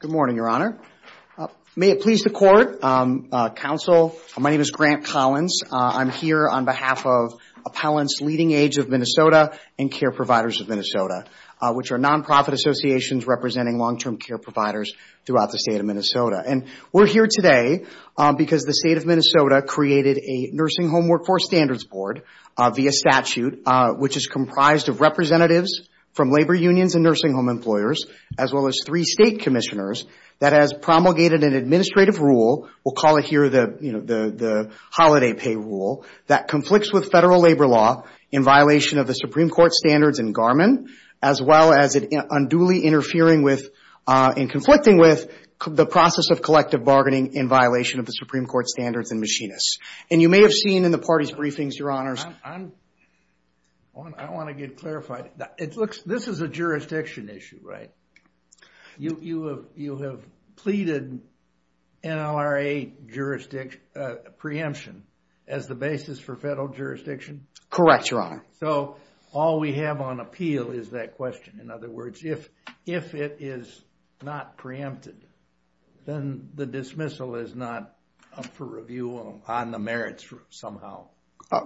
Good morning, Your Honor. May it please the Court, Counsel, my name is Grant Collins. I'm here on behalf of Appellants LeadingAge of Minnesota and Care Providers of Minnesota, which are non-profit associations representing long-term care providers throughout the state of Minnesota. And we're here today because the state of Minnesota created a Nursing Home Workforce Standards Board via statute, which is comprised of representatives from labor unions and nursing home employers, as well as three state commissioners that has promulgated an administrative rule. We'll call it here the holiday pay rule that conflicts with federal labor law in violation of the Supreme Court standards in Garmin, as well as unduly interfering with and conflicting with the process of collective bargaining in violation of the Supreme Court standards in Machinists. And you may have seen in the party's briefings, Your Honors. I want to get clarified. This is a jurisdiction issue, right? You have pleaded NLRA preemption as the basis for federal jurisdiction? Correct, Your Honor. So all we have on appeal is that question. In other words, if it is not preempted, then the dismissal is not up for review on the merits somehow.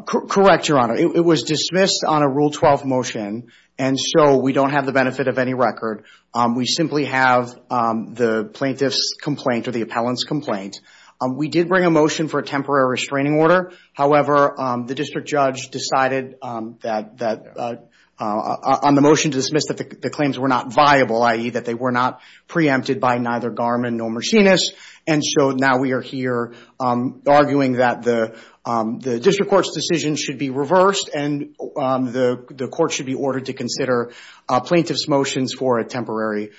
Correct, Your Honor. It was dismissed on a Rule 12 motion, and so we don't have the benefit of any record. We simply have the plaintiff's complaint or the appellant's complaint. We did bring a motion for a temporary restraining order. However, the district judge decided on the motion to dismiss that the claims were not viable, i.e., that they were not preempted by neither Garmin nor Machinists. And so now we are here arguing that the district court's decision should be reversed and the court should be ordered to consider plaintiff's motions for a temporary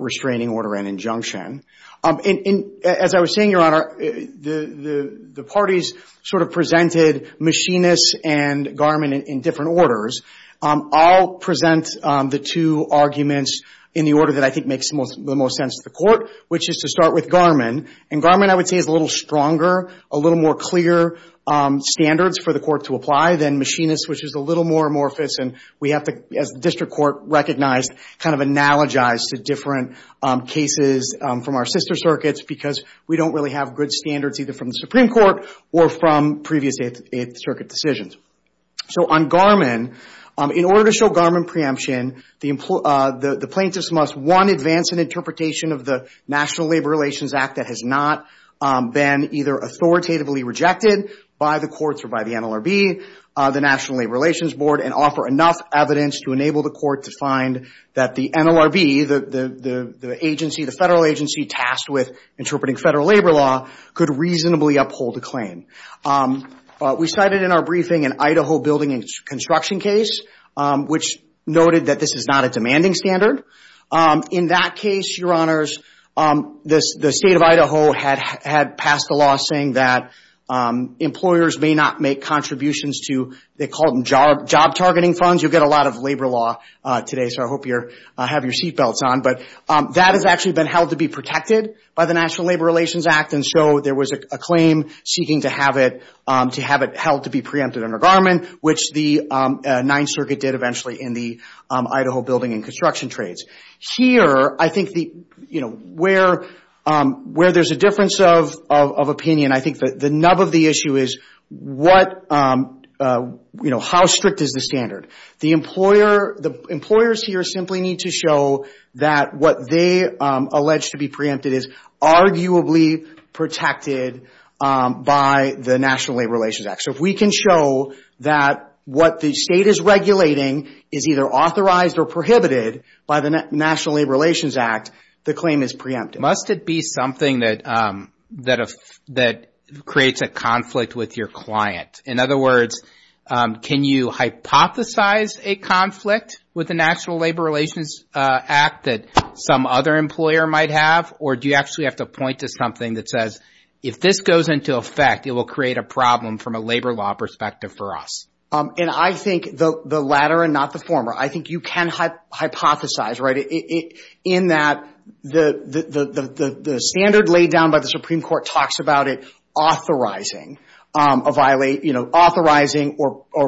restraining order and injunction. As I was saying, Your Honor, the parties sort of presented Machinists and Garmin in different orders. I'll present the two arguments in the order that I think makes the most sense to the court, which is to start with Garmin. And Garmin, I would say, is a little stronger, a little more clear standards for the court to apply than Machinists, which is a little more amorphous. And we have to, as the district court recognized, kind of analogize to different cases from our sister circuits because we don't really have good standards either from the Supreme Court or from previous Eighth Circuit decisions. So on Garmin, in order to show Garmin preemption, the plaintiffs must, one, advance an interpretation of the National Labor Relations Act that has not been either authoritatively rejected by the courts or by the NLRB, the National Labor Relations Board, and offer enough evidence to enable the court to find that the NLRB, the agency, the federal agency tasked with interpreting federal labor law, could reasonably uphold the claim. We cited in our briefing an Idaho building and construction case, which noted that this is not a demanding standard. In that case, Your Honors, the State of Idaho had passed a law saying that employers may not make contributions to, they call them job targeting funds. You'll get a lot of labor law today, so I hope you have your seat belts on. But that has actually been held to be protected by the National Labor Relations Act. And so there was a claim seeking to have it held to be preempted under Garmin, which the Ninth Circuit did eventually in the Idaho building and construction trades. Here, I think where there's a difference of opinion, I think the nub of the issue is how strict is the standard? The employers here simply need to show that what they allege to be preempted is arguably protected by the National Labor Relations Act. So if we can show that what the state is regulating is either authorized or prohibited by the National Labor Relations Act, the claim is preempted. Must it be something that creates a conflict with your client? In other words, can you hypothesize a conflict with the National Labor Relations Act that some other employer might have? Or do you actually have to point to something that says, if this goes into effect, it will create a problem from a labor law perspective for us? And I think the latter and not the former. I think you can hypothesize in that the standard laid down by the Supreme Court talks about it authorizing or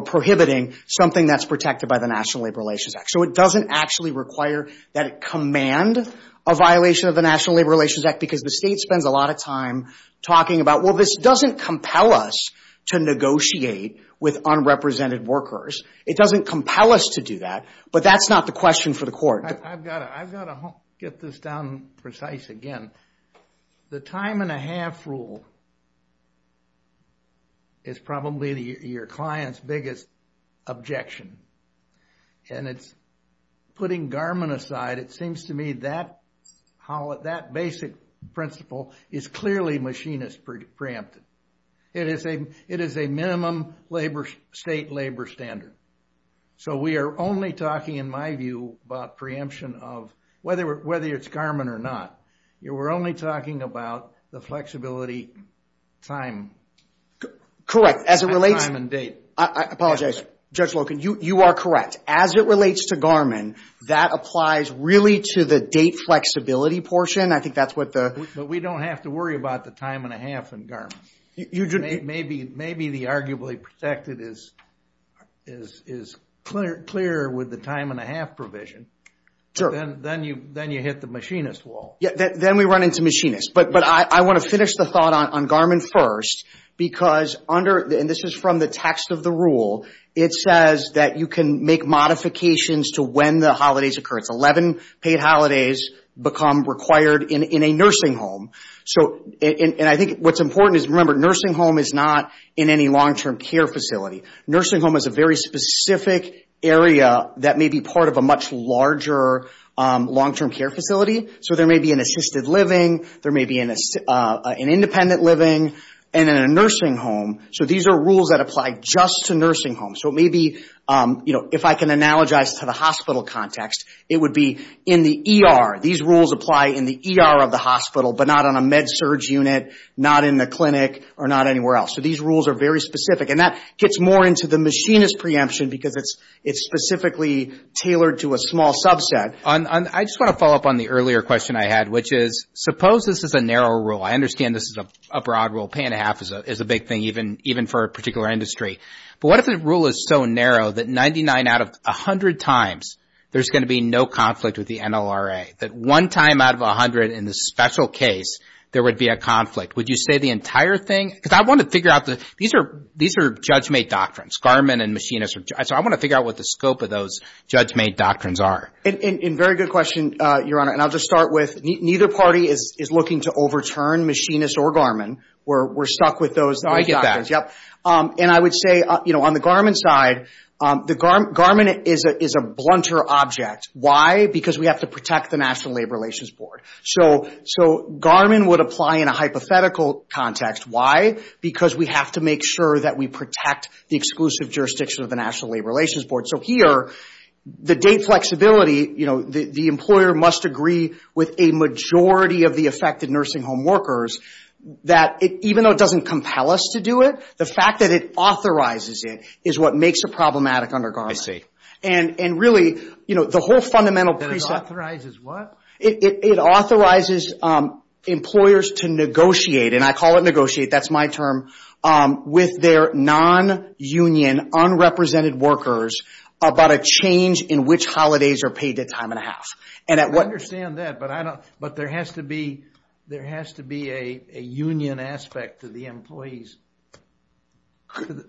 prohibiting something that's protected by the National Labor Relations Act. So it doesn't actually require that it command a violation of the National Labor Relations Act. Because the state spends a lot of time talking about, well, this doesn't compel us to negotiate with unrepresented workers. It doesn't compel us to do that. But that's not the question for the court. I've got to get this down precise again. The time and a half rule is probably your client's biggest objection. And it's putting Garmin aside. It seems to me that basic principle is clearly machinist preempted. It is a minimum state labor standard. So we are only talking, in my view, about preemption of whether it's Garmin or not. We're only talking about the flexibility time. Correct. Time and date. I apologize. Judge Loken, you are correct. As it relates to Garmin, that applies really to the date flexibility portion. I think that's what the... But we don't have to worry about the time and a half in Garmin. Maybe the arguably protected is clear with the time and a half provision. Then you hit the machinist wall. Then we run into machinist. But I want to finish the thought on Garmin first. Because under, and this is from the text of the rule, it says that you can make modifications to when the holidays occur. It's 11 paid holidays become required in a nursing home. I think what's important is, remember, nursing home is not in any long-term care facility. Nursing home is a very specific area that may be part of a much larger long-term care facility. So there may be an assisted living. There may be an independent living. And then a nursing home. So these are rules that apply just to nursing homes. So maybe, if I can analogize to the hospital context, it would be in the ER. These rules apply in the ER of the hospital, but not on a med-surg unit, not in the clinic, or not anywhere else. So these rules are very specific. And that gets more into the machinist preemption because it's specifically tailored to a small subset. I just want to follow up on the earlier question I had, which is, suppose this is a narrow rule. I understand this is a broad rule. Paying a half is a big thing, even for a particular industry. But what if the rule is so narrow that 99 out of 100 times there's going to be no conflict with the NLRA, that one time out of 100 in the special case there would be a conflict? Would you say the entire thing? Because I want to figure out the – these are judge-made doctrines. Garmin and machinists are – so I want to figure out what the scope of those judge-made doctrines are. And very good question, Your Honor. And I'll just start with neither party is looking to overturn machinist or Garmin. We're stuck with those doctrines. I get that. And I would say on the Garmin side, Garmin is a blunter object. Why? Because we have to protect the National Labor Relations Board. So Garmin would apply in a hypothetical context. Because we have to make sure that we protect the exclusive jurisdiction of the National Labor Relations Board. So here, the date flexibility, the employer must agree with a majority of the affected nursing home workers. Even though it doesn't compel us to do it, the fact that it authorizes it is what makes it problematic under Garmin. And really, the whole fundamental – It authorizes what? It authorizes employers to negotiate – and I call it negotiate, that's my term – with their non-union, unrepresented workers about a change in which holidays are paid a time and a half. I understand that, but there has to be a union aspect to the employees,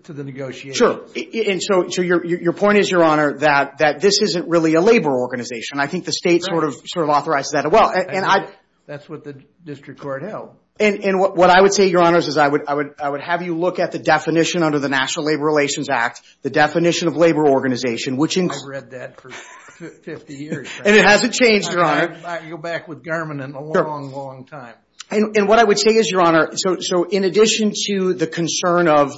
to the negotiations. And so your point is, Your Honor, that this isn't really a labor organization. I think the state sort of authorizes that as well. That's what the district court held. And what I would say, Your Honors, is I would have you look at the definition under the National Labor Relations Act, the definition of labor organization, which includes – I've read that for 50 years now. And it hasn't changed, Your Honor. I might go back with Garmin in a long, long time. And what I would say is, Your Honor, so in addition to the concern of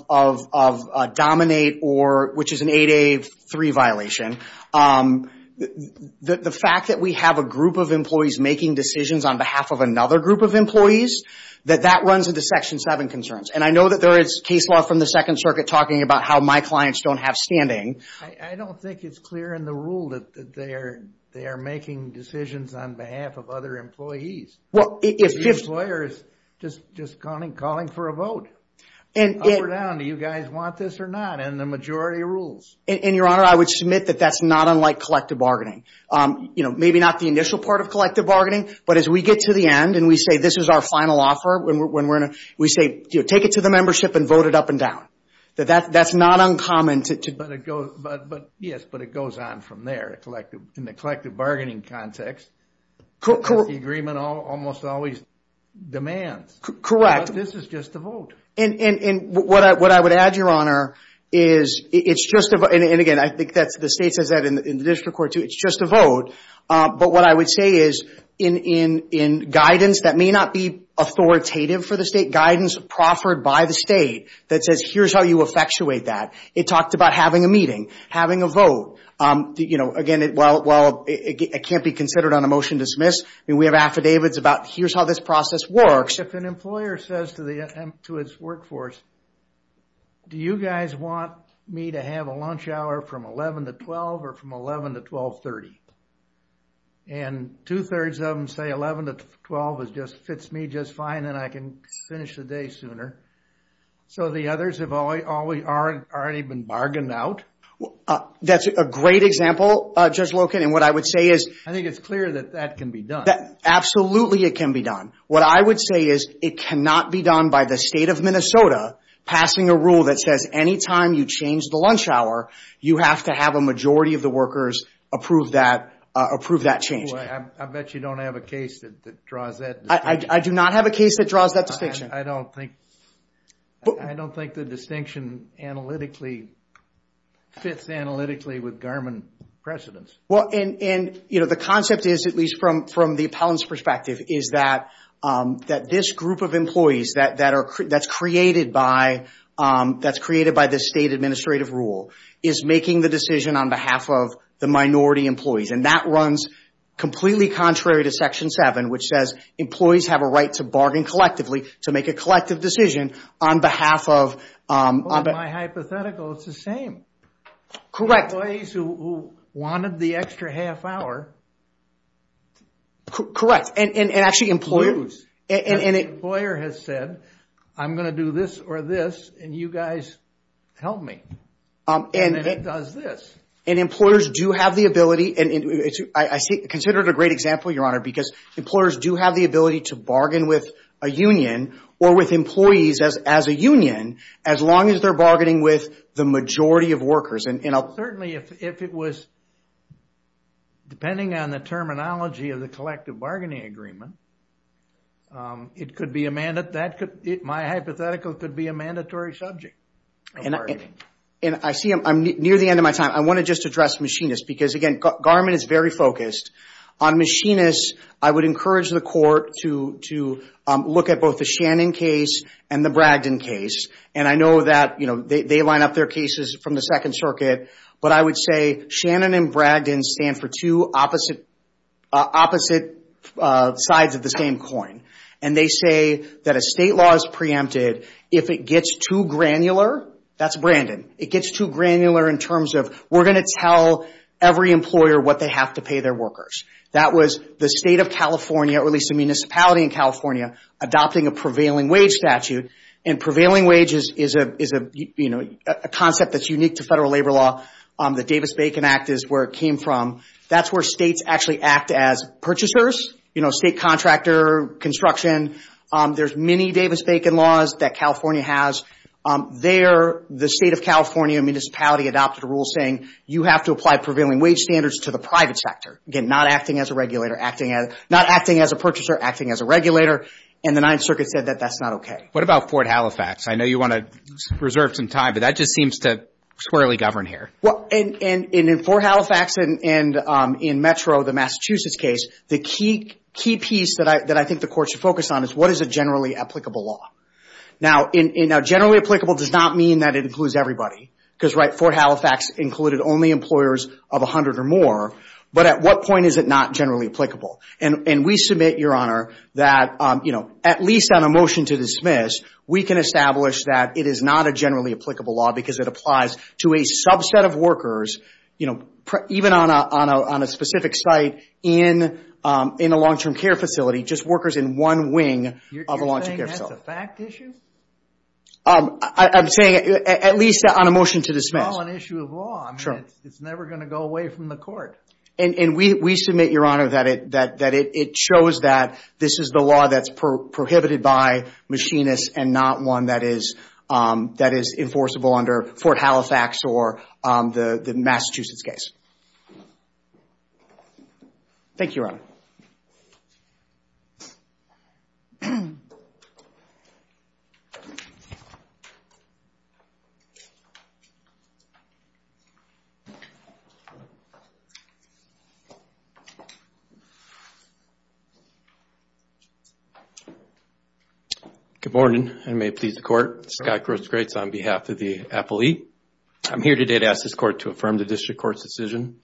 dominate, which is an 8A3 violation, the fact that we have a group of employees making decisions on behalf of another group of employees, that that runs into Section 7 concerns. And I know that there is case law from the Second Circuit talking about how my clients don't have standing. I don't think it's clear in the rule that they are making decisions on behalf of other employees. The employer is just calling for a vote. Up or down, do you guys want this or not in the majority of rules? And, Your Honor, I would submit that that's not unlike collective bargaining. You know, maybe not the initial part of collective bargaining, but as we get to the end and we say this is our final offer, we say take it to the membership and vote it up and down. That's not uncommon. Yes, but it goes on from there. In the collective bargaining context, the agreement almost always demands. Correct. This is just a vote. And what I would add, Your Honor, is it's just a vote. And, again, I think the state says that in the district court too. It's just a vote. But what I would say is in guidance that may not be authoritative for the state, in guidance proffered by the state that says here's how you effectuate that, it talked about having a meeting, having a vote. You know, again, while it can't be considered on a motion to dismiss, we have affidavits about here's how this process works. If an employer says to its workforce, do you guys want me to have a lunch hour from 11 to 12 or from 11 to 1230? And two-thirds of them say 11 to 12 fits me just fine and then I can finish the day sooner. So the others have already been bargained out? That's a great example, Judge Loken. And what I would say is – I think it's clear that that can be done. Absolutely it can be done. What I would say is it cannot be done by the state of Minnesota passing a rule that says any time you change the lunch hour, you have to have a majority of the workers approve that change. I bet you don't have a case that draws that distinction. I do not have a case that draws that distinction. I don't think the distinction fits analytically with Garmin precedents. Well, and the concept is, at least from the appellant's perspective, is that this group of employees that's created by the state administrative rule is making the decision on behalf of the minority employees. And that runs completely contrary to Section 7, which says employees have a right to bargain collectively, to make a collective decision on behalf of – Well, in my hypothetical, it's the same. Correct. Employees who wanted the extra half hour lose. An employer has said, I'm going to do this or this, and you guys help me. And it does this. And employers do have the ability – I consider it a great example, Your Honor, because employers do have the ability to bargain with a union or with employees as a union, as long as they're bargaining with the majority of workers. Certainly, if it was – depending on the terminology of the collective bargaining agreement, it could be a – my hypothetical could be a mandatory subject of bargaining. And I see I'm near the end of my time. I want to just address machinists, because, again, Garmin is very focused. On machinists, I would encourage the court to look at both the Shannon case and the Bragdon case. And I know that they line up their cases from the Second Circuit, but I would say Shannon and Bragdon stand for two opposite sides of the same coin. And they say that a state law is preempted if it gets too granular. That's Brandon. It gets too granular in terms of we're going to tell every employer what they have to pay their workers. That was the State of California, or at least the municipality in California, adopting a prevailing wage statute. And prevailing wage is a concept that's unique to federal labor law. The Davis-Bacon Act is where it came from. That's where states actually act as purchasers, state contractor, construction. There's many Davis-Bacon laws that California has. There, the State of California municipality adopted a rule saying you have to apply prevailing wage standards to the private sector. Again, not acting as a purchaser, acting as a regulator. And the Ninth Circuit said that that's not okay. What about Fort Halifax? I know you want to reserve some time, but that just seems to squarely govern here. Well, in Fort Halifax and in Metro, the Massachusetts case, the key piece that I think the court should focus on is what is a generally applicable law? Now, generally applicable does not mean that it includes everybody, because Fort Halifax included only employers of 100 or more. But at what point is it not generally applicable? And we submit, Your Honor, that at least on a motion to dismiss, we can establish that it is not a generally applicable law because it applies to a subset of workers, even on a specific site, in a long-term care facility, just workers in one wing of a long-term care facility. So it's a fact issue? I'm saying at least on a motion to dismiss. It's not an issue of law. I mean, it's never going to go away from the court. And we submit, Your Honor, that it shows that this is the law that's prohibited by machinists and not one that is enforceable under Fort Halifax or the Massachusetts case. Thank you, Your Honor. Good morning, and may it please the Court. Scott Gross Greats on behalf of the appellee. I'm here today to ask this Court to affirm the district court's decision.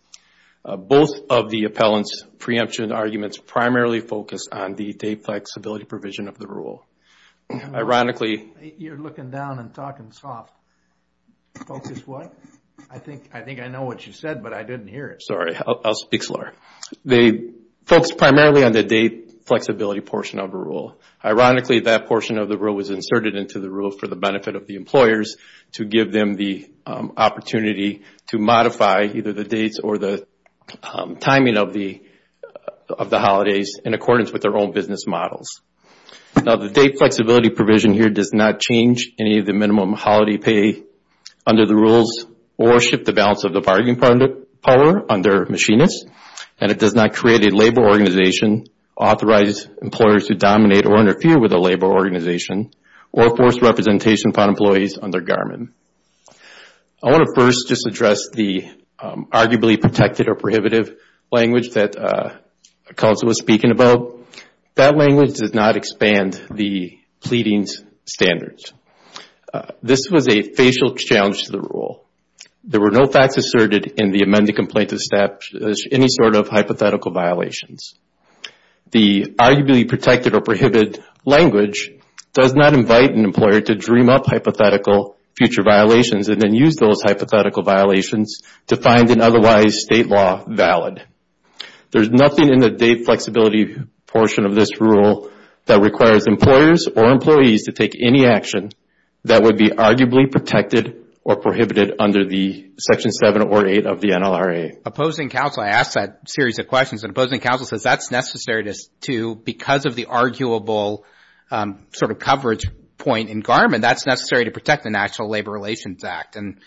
Both of the appellant's preemption arguments primarily focus on the day flexibility provision of the rule. Ironically... You're looking down and talking soft. Focus what? I think I know what you said, but I didn't hear it. Sorry, I'll speak slower. They focus primarily on the day flexibility portion of the rule. Ironically, that portion of the rule was inserted into the rule for the benefit of the employers to give them the opportunity to modify either the dates or the timing of the holidays in accordance with their own business models. Now, the date flexibility provision here does not change any of the minimum holiday pay under the rules or shift the balance of the bargaining power under machinists. And it does not create a labor organization, authorize employers to dominate or interfere with a labor organization, or force representation upon employees under Garmin. I want to first just address the arguably protected or prohibitive language that Council was speaking about. That language does not expand the pleading's standards. This was a facial challenge to the rule. There were no facts asserted in the amended complaint to establish any sort of hypothetical violations. The arguably protected or prohibited language does not invite an employer to dream up hypothetical future violations and then use those hypothetical violations to find an otherwise state law valid. There's nothing in the date flexibility portion of this rule that requires employers or employees to take any action that would be arguably protected or prohibited under the Section 7 or 8 of the NLRA. Opposing counsel, I asked that series of questions. And opposing counsel says that's necessary because of the arguable sort of coverage point in Garmin. That's necessary to protect the National Labor Relations Act and,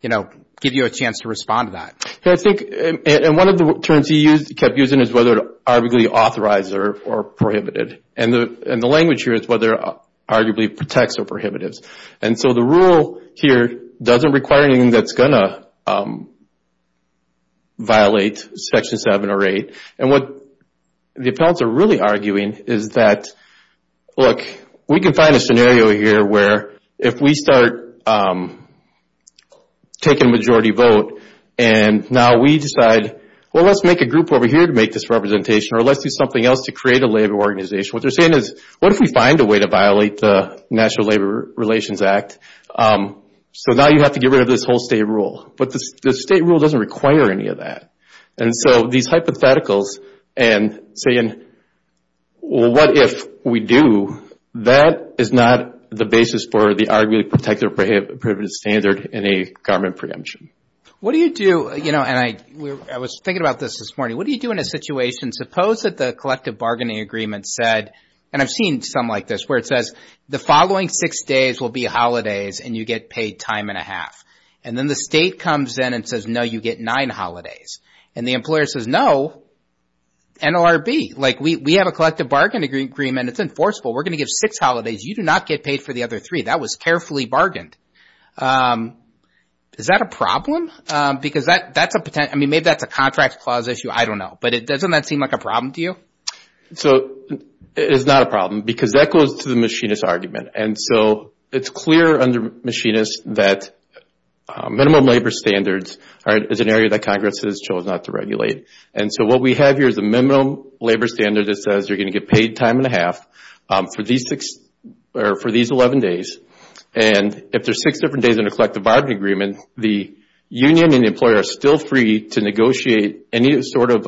you know, give you a chance to respond to that. And one of the terms he kept using is whether arguably authorized or prohibited. And the language here is whether arguably protects or prohibitives. And so the rule here doesn't require anything that's going to violate Section 7 or 8. And what the appellants are really arguing is that, look, we can find a scenario here where if we start taking majority vote and now we decide, well, let's make a group over here to make this representation or let's do something else to create a labor organization. What they're saying is what if we find a way to violate the National Labor Relations Act? So now you have to get rid of this whole state rule. But the state rule doesn't require any of that. And so these hypotheticals and saying, well, what if we do, that is not the basis for the arguably protected or prohibited standard in a Garmin preemption. What do you do, you know, and I was thinking about this this morning, what do you do in a situation, suppose that the collective bargaining agreement said, and I've seen some like this, where it says the following six days will be holidays and you get paid time and a half. And then the state comes in and says, no, you get nine holidays. And the employer says, no, NLRB, like we have a collective bargain agreement. It's enforceable. We're going to give six holidays. You do not get paid for the other three. That was carefully bargained. Is that a problem? Because that's a potential, I mean, maybe that's a contract clause issue. I don't know. But doesn't that seem like a problem to you? So it's not a problem because that goes to the machinist argument. And so it's clear under machinist that minimum labor standards is an area that Congress has chosen not to regulate. And so what we have here is a minimum labor standard that says you're going to get paid time and a half for these 11 days. And if there's six different days in a collective bargaining agreement, the union and the employer are still free to negotiate any sort of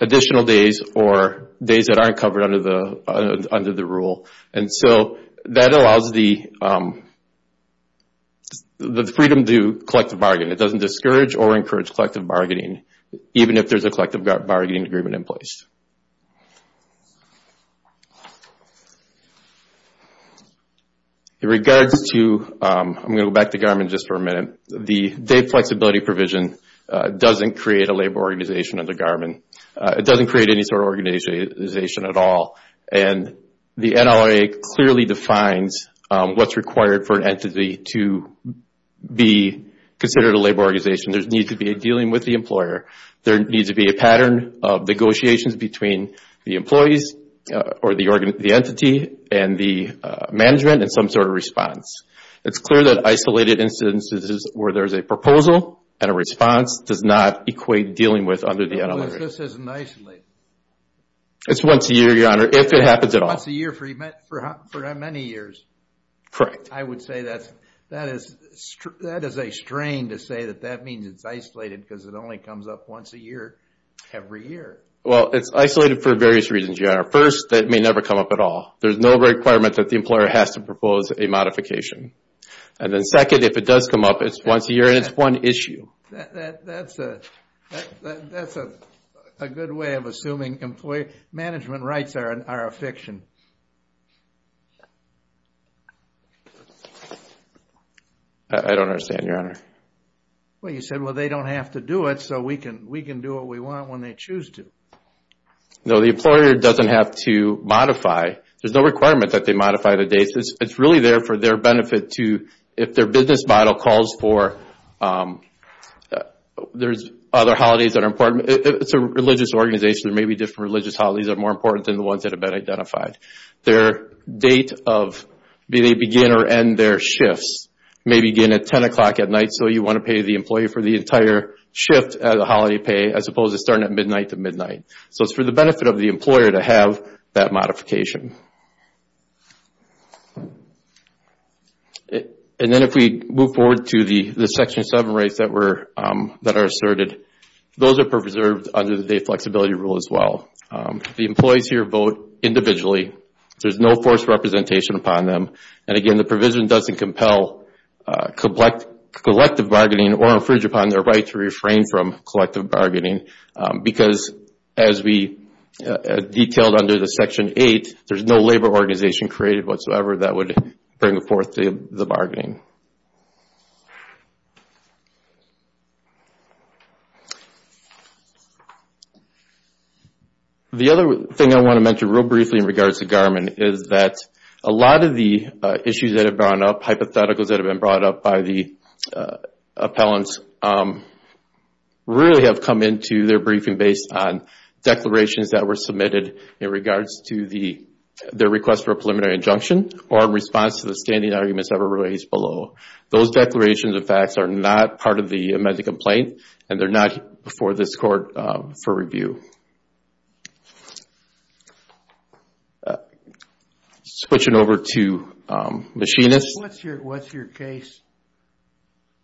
additional days or days that aren't covered under the rule. And so that allows the freedom to collective bargain. It doesn't discourage or encourage collective bargaining, even if there's a collective bargaining agreement in place. In regards to, I'm going to go back to Garmin just for a minute, the day flexibility provision doesn't create a labor organization under Garmin. It doesn't create any sort of organization at all. And the NLRA clearly defines what's required for an entity to be considered a labor organization. There needs to be a dealing with the employer. There needs to be a pattern of negotiations between the employees or the entity and the management and some sort of response. It's clear that isolated instances where there's a proposal and a response does not equate dealing with under the NLRA. How much does this isolate? It's once a year, Your Honor, if it happens at all. Once a year for many years. Correct. I would say that is a strain to say that that means it's isolated because it only comes up once a year every year. Well, it's isolated for various reasons, Your Honor. First, that may never come up at all. There's no requirement that the employer has to propose a modification. And then second, if it does come up, it's once a year and it's one issue. That's a good way of assuming management rights are a fiction. I don't understand, Your Honor. Well, you said, well, they don't have to do it so we can do what we want when they choose to. No, the employer doesn't have to modify. There's no requirement that they modify the dates. It's really there for their benefit to, if their business model calls for, there's other holidays that are important. It's a religious organization. Maybe different religious holidays are more important than the ones that have been identified. Their date of, be they begin or end their shifts, may begin at 10 o'clock at night, so you want to pay the employee for the entire shift as a holiday pay, as opposed to starting at midnight to midnight. So it's for the benefit of the employer to have that modification. And then if we move forward to the Section 7 rights that are asserted, those are preserved under the Date Flexibility Rule as well. The employees here vote individually. There's no forced representation upon them. And again, the provision doesn't compel collective bargaining or infringe upon their right to refrain from collective bargaining because as we detailed under the Section 8, there's no labor organization created whatsoever that would bring forth the bargaining. The other thing I want to mention real briefly in regards to Garmin is that a lot of the issues that have brought up, hypotheticals that have been brought up by the appellants, really have come into their briefing based on declarations that were submitted in regards to their request for a preliminary injunction or in response to the standing arguments that were raised below. Those declarations and facts are not part of the amended complaint and they're not before this court for review. Switching over to Machinists. What's your case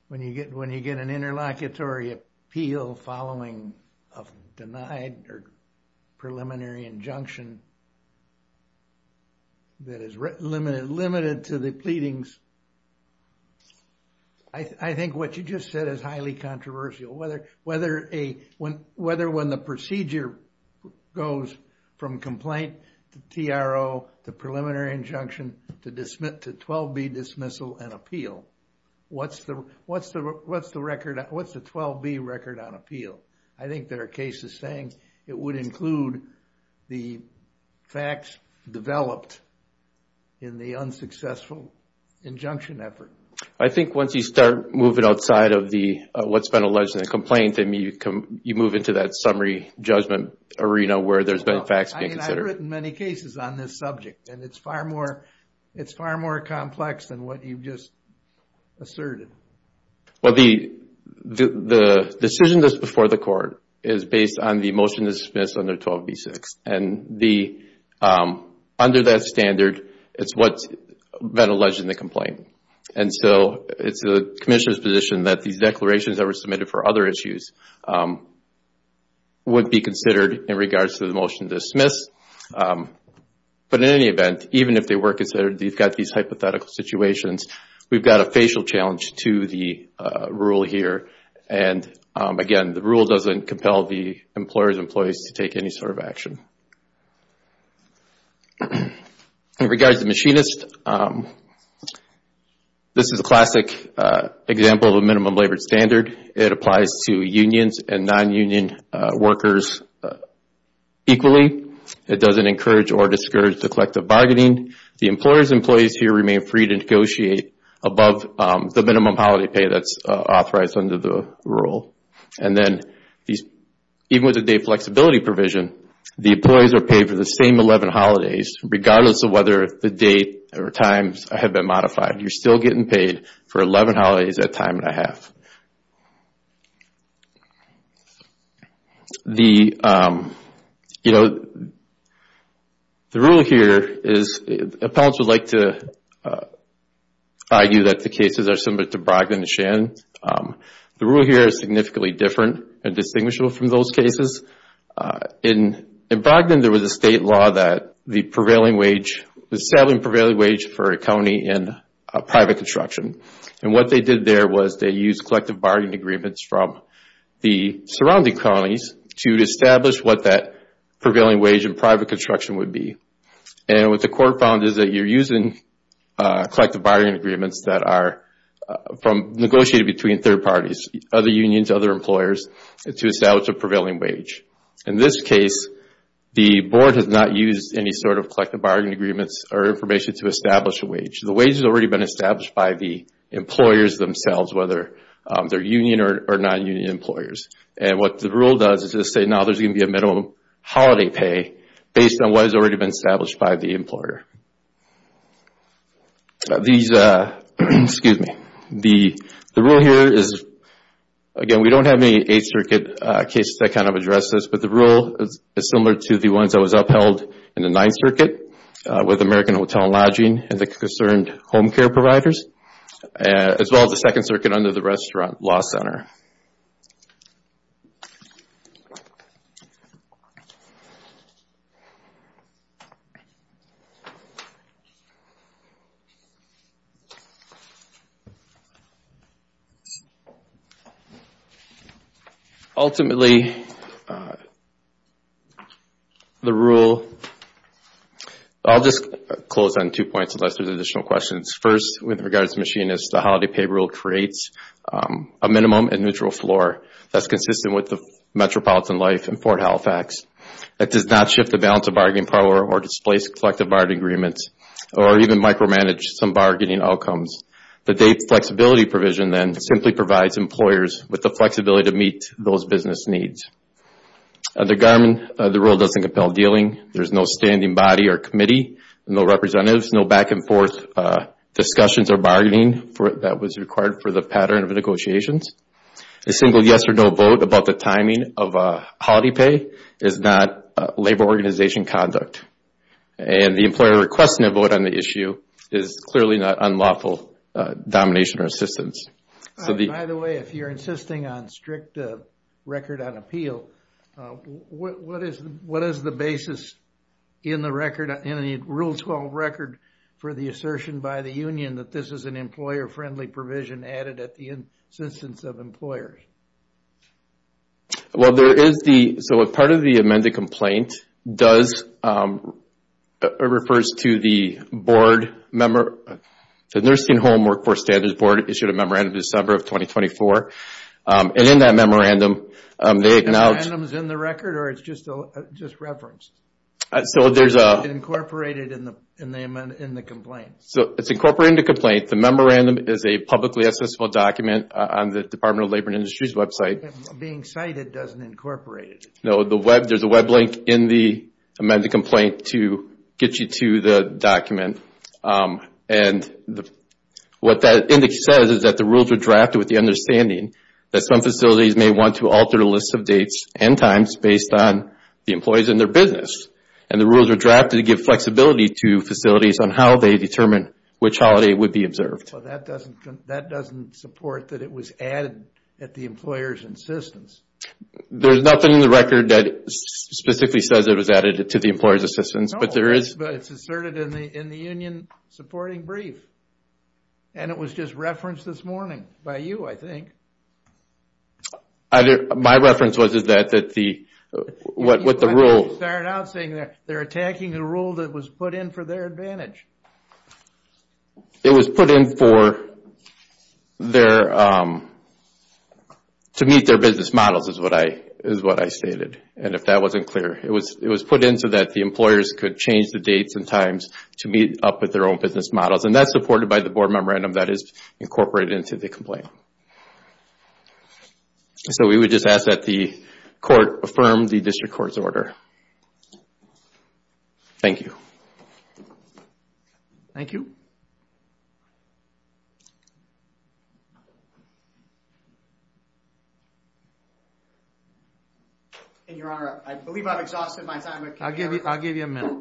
when you get an interlocutory appeal following a denied or preliminary injunction that is limited to the pleadings? I think what you just said is highly controversial. Whether when the procedure goes from complaint to TRO, to preliminary injunction, to 12B dismissal and appeal. What's the 12B record on appeal? I think there are cases saying it would include the facts developed in the unsuccessful injunction effort. I think once you start moving outside of what's been alleged in the complaint, you move into that summary judgment arena where there's been facts being considered. I've heard it in many cases on this subject and it's far more complex than what you've just asserted. The decision that's before the court is based on the motion to dismiss under 12B-6. Under that standard, it's what's been alleged in the complaint. It's the commissioner's position that these declarations that were submitted for other issues would be considered in regards to the motion to dismiss. In any event, even if they were considered, you've got these hypothetical situations. We've got a facial challenge to the rule here. Again, the rule doesn't compel the employers and employees to take any sort of action. In regards to the machinist, this is a classic example of a minimum labor standard. It applies to unions and non-union workers equally. It doesn't encourage or discourage the collective bargaining. The employers and employees here remain free to negotiate above the minimum holiday pay that's authorized under the rule. Even with the day flexibility provision, the employees are paid for the same 11 holidays, regardless of whether the date or times have been modified. You're still getting paid for 11 holidays at time and a half. The rule here is, appellants would like to argue that the cases are similar to Brogdon and Shannon. The rule here is significantly different and distinguishable from those cases. In Brogdon, there was a state law that the prevailing wage, establishing prevailing wage for a county in private construction. What they did there was they used collective bargaining agreements from the surrounding counties to establish what that prevailing wage in private construction would be. What the court found is that you're using collective bargaining agreements that are negotiated between third parties, other unions, other employers, to establish a prevailing wage. In this case, the board has not used any sort of collective bargaining agreements or information to establish a wage. The wage has already been established by the employers themselves, whether they're union or non-union employers. What the rule does is just say, now there's going to be a minimum holiday pay based on what has already been established by the employer. The rule here is, again, we don't have any Eighth Circuit cases that kind of address this, but the rule is similar to the ones that was upheld in the Ninth Circuit with American Hotel and Lodging and the concerned home care providers, as well as the Second Circuit under the Restaurant Law Center. Ultimately, the rule... I'll just close on two points unless there's additional questions. First, with regards to machinists, the holiday pay rule creates a minimum and neutral floor that's consistent with the metropolitan life in Fort Halifax. It does not shift the balance of bargaining power or displace collective bargaining agreements or even micromanage some bargaining outcomes. The date flexibility provision then simply provides employers with the flexibility to meet those business needs. Under Garmin, the rule doesn't compel dealing. There's no standing body or committee, no representatives, no back-and-forth discussions or bargaining that was required for the pattern of negotiations. A single yes or no vote about the timing of holiday pay is not labor organization conduct. And the employer requesting a vote on the issue is clearly not unlawful domination or assistance. By the way, if you're insisting on strict record on appeal, what is the basis in the rule 12 record for the assertion by the union that this is an employer-friendly provision added at the insistence of employers? Well, there is the... So part of the amended complaint does... refers to the board... The Nursing Home Workforce Standards Board issued a memorandum in December of 2024. And in that memorandum, they have now... The memorandum is in the record or it's just referenced? So there's a... Incorporated in the complaint. So it's incorporated in the complaint. The memorandum is a publicly accessible document on the Department of Labor and Industries website. Being cited doesn't incorporate it. No, there's a web link in the amended complaint to get you to the document. And what that index says is that the rules are drafted with the understanding that some facilities may want to alter the list of dates and times based on the employees and their business. And the rules are drafted to give flexibility to facilities on how they determine which holiday would be observed. That doesn't support that it was added at the employer's insistence. There's nothing in the record that specifically says it was added to the employer's insistence, but there is... But it's asserted in the union supporting brief. And it was just referenced this morning by you, I think. My reference was that the... You started out saying they're attacking a rule that was put in for their advantage. It was put in for their... To meet their business models is what I stated. And if that wasn't clear, it was put in so that the employers could change the dates and times to meet up with their own business models. And that's supported by the board memorandum that is incorporated into the complaint. So we would just ask that the court affirm the district court's order. Thank you. Thank you. And your honor, I believe I've exhausted my time. I'll give you a minute.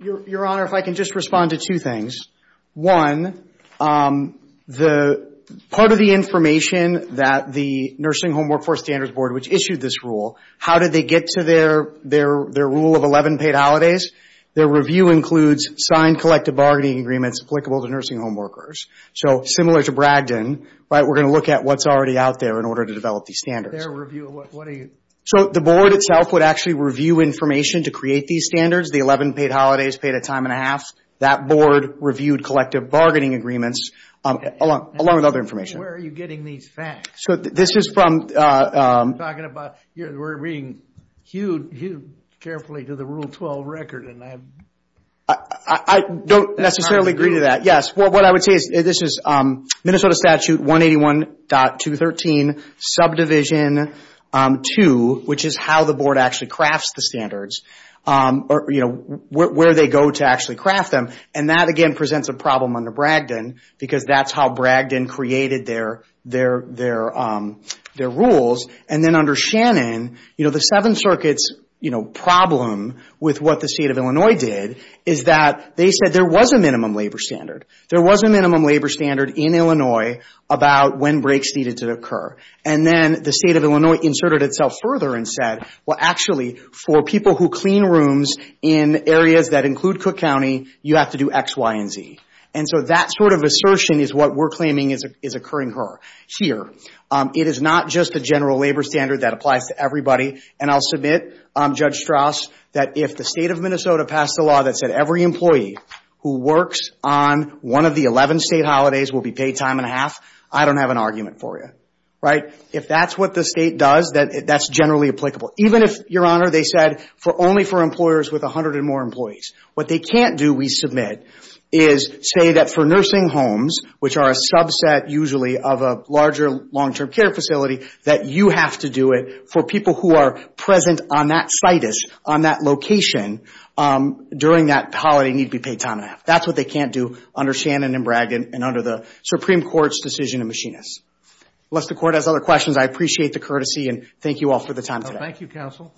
Your honor, if I can just respond to two things. One, part of the information that the Nursing Home Workforce Standards Board which issued this rule, how did they get to their rule of 11 paid holidays? Their review includes signed collective bargaining agreements applicable to nursing home workers. So similar to Bragdon, we're going to look at what's already out there in order to develop these standards. So the board itself would actually review information to create these standards. The 11 paid holidays paid a time and a half. That board reviewed collective bargaining agreements along with other information. Where are you getting these facts? So this is from... We're being hewed carefully to the Rule 12 record. I don't necessarily agree to that. What I would say is this is Minnesota Statute 181.213, subdivision 2, which is how the board actually crafts the standards, where they go to actually craft them. And that, again, presents a problem under Bragdon because that's how Bragdon created their rules. And then under Shannon, the Seven Circuits problem with what the state of Illinois did is that they said there was a minimum labor standard. There was a minimum labor standard in Illinois about when breaks needed to occur. And then the state of Illinois inserted itself further and said, well, actually, for people who clean rooms in areas that include Cook County, you have to do X, Y, and Z. And so that sort of assertion is what we're claiming is occurring here. It is not just a general labor standard that applies to everybody. And I'll submit, Judge Strauss, that if the state of Minnesota passed a law that said every employee who works on one of the 11 state holidays will be paid time and a half, I don't have an argument for you. If that's what the state does, that's generally applicable. Even if, Your Honor, they said only for employers with 100 or more employees. What they can't do, we submit, is say that for nursing homes, which are a subset usually of a larger long-term care facility, that you have to do it for people who are present on that situs, on that location, during that holiday need to be paid time and a half. That's what they can't do under Shannon and Bragdon and under the Supreme Court's decision in Machinists. Unless the Court has other questions, I appreciate the courtesy, and thank you all for the time today. Thank you, Counsel.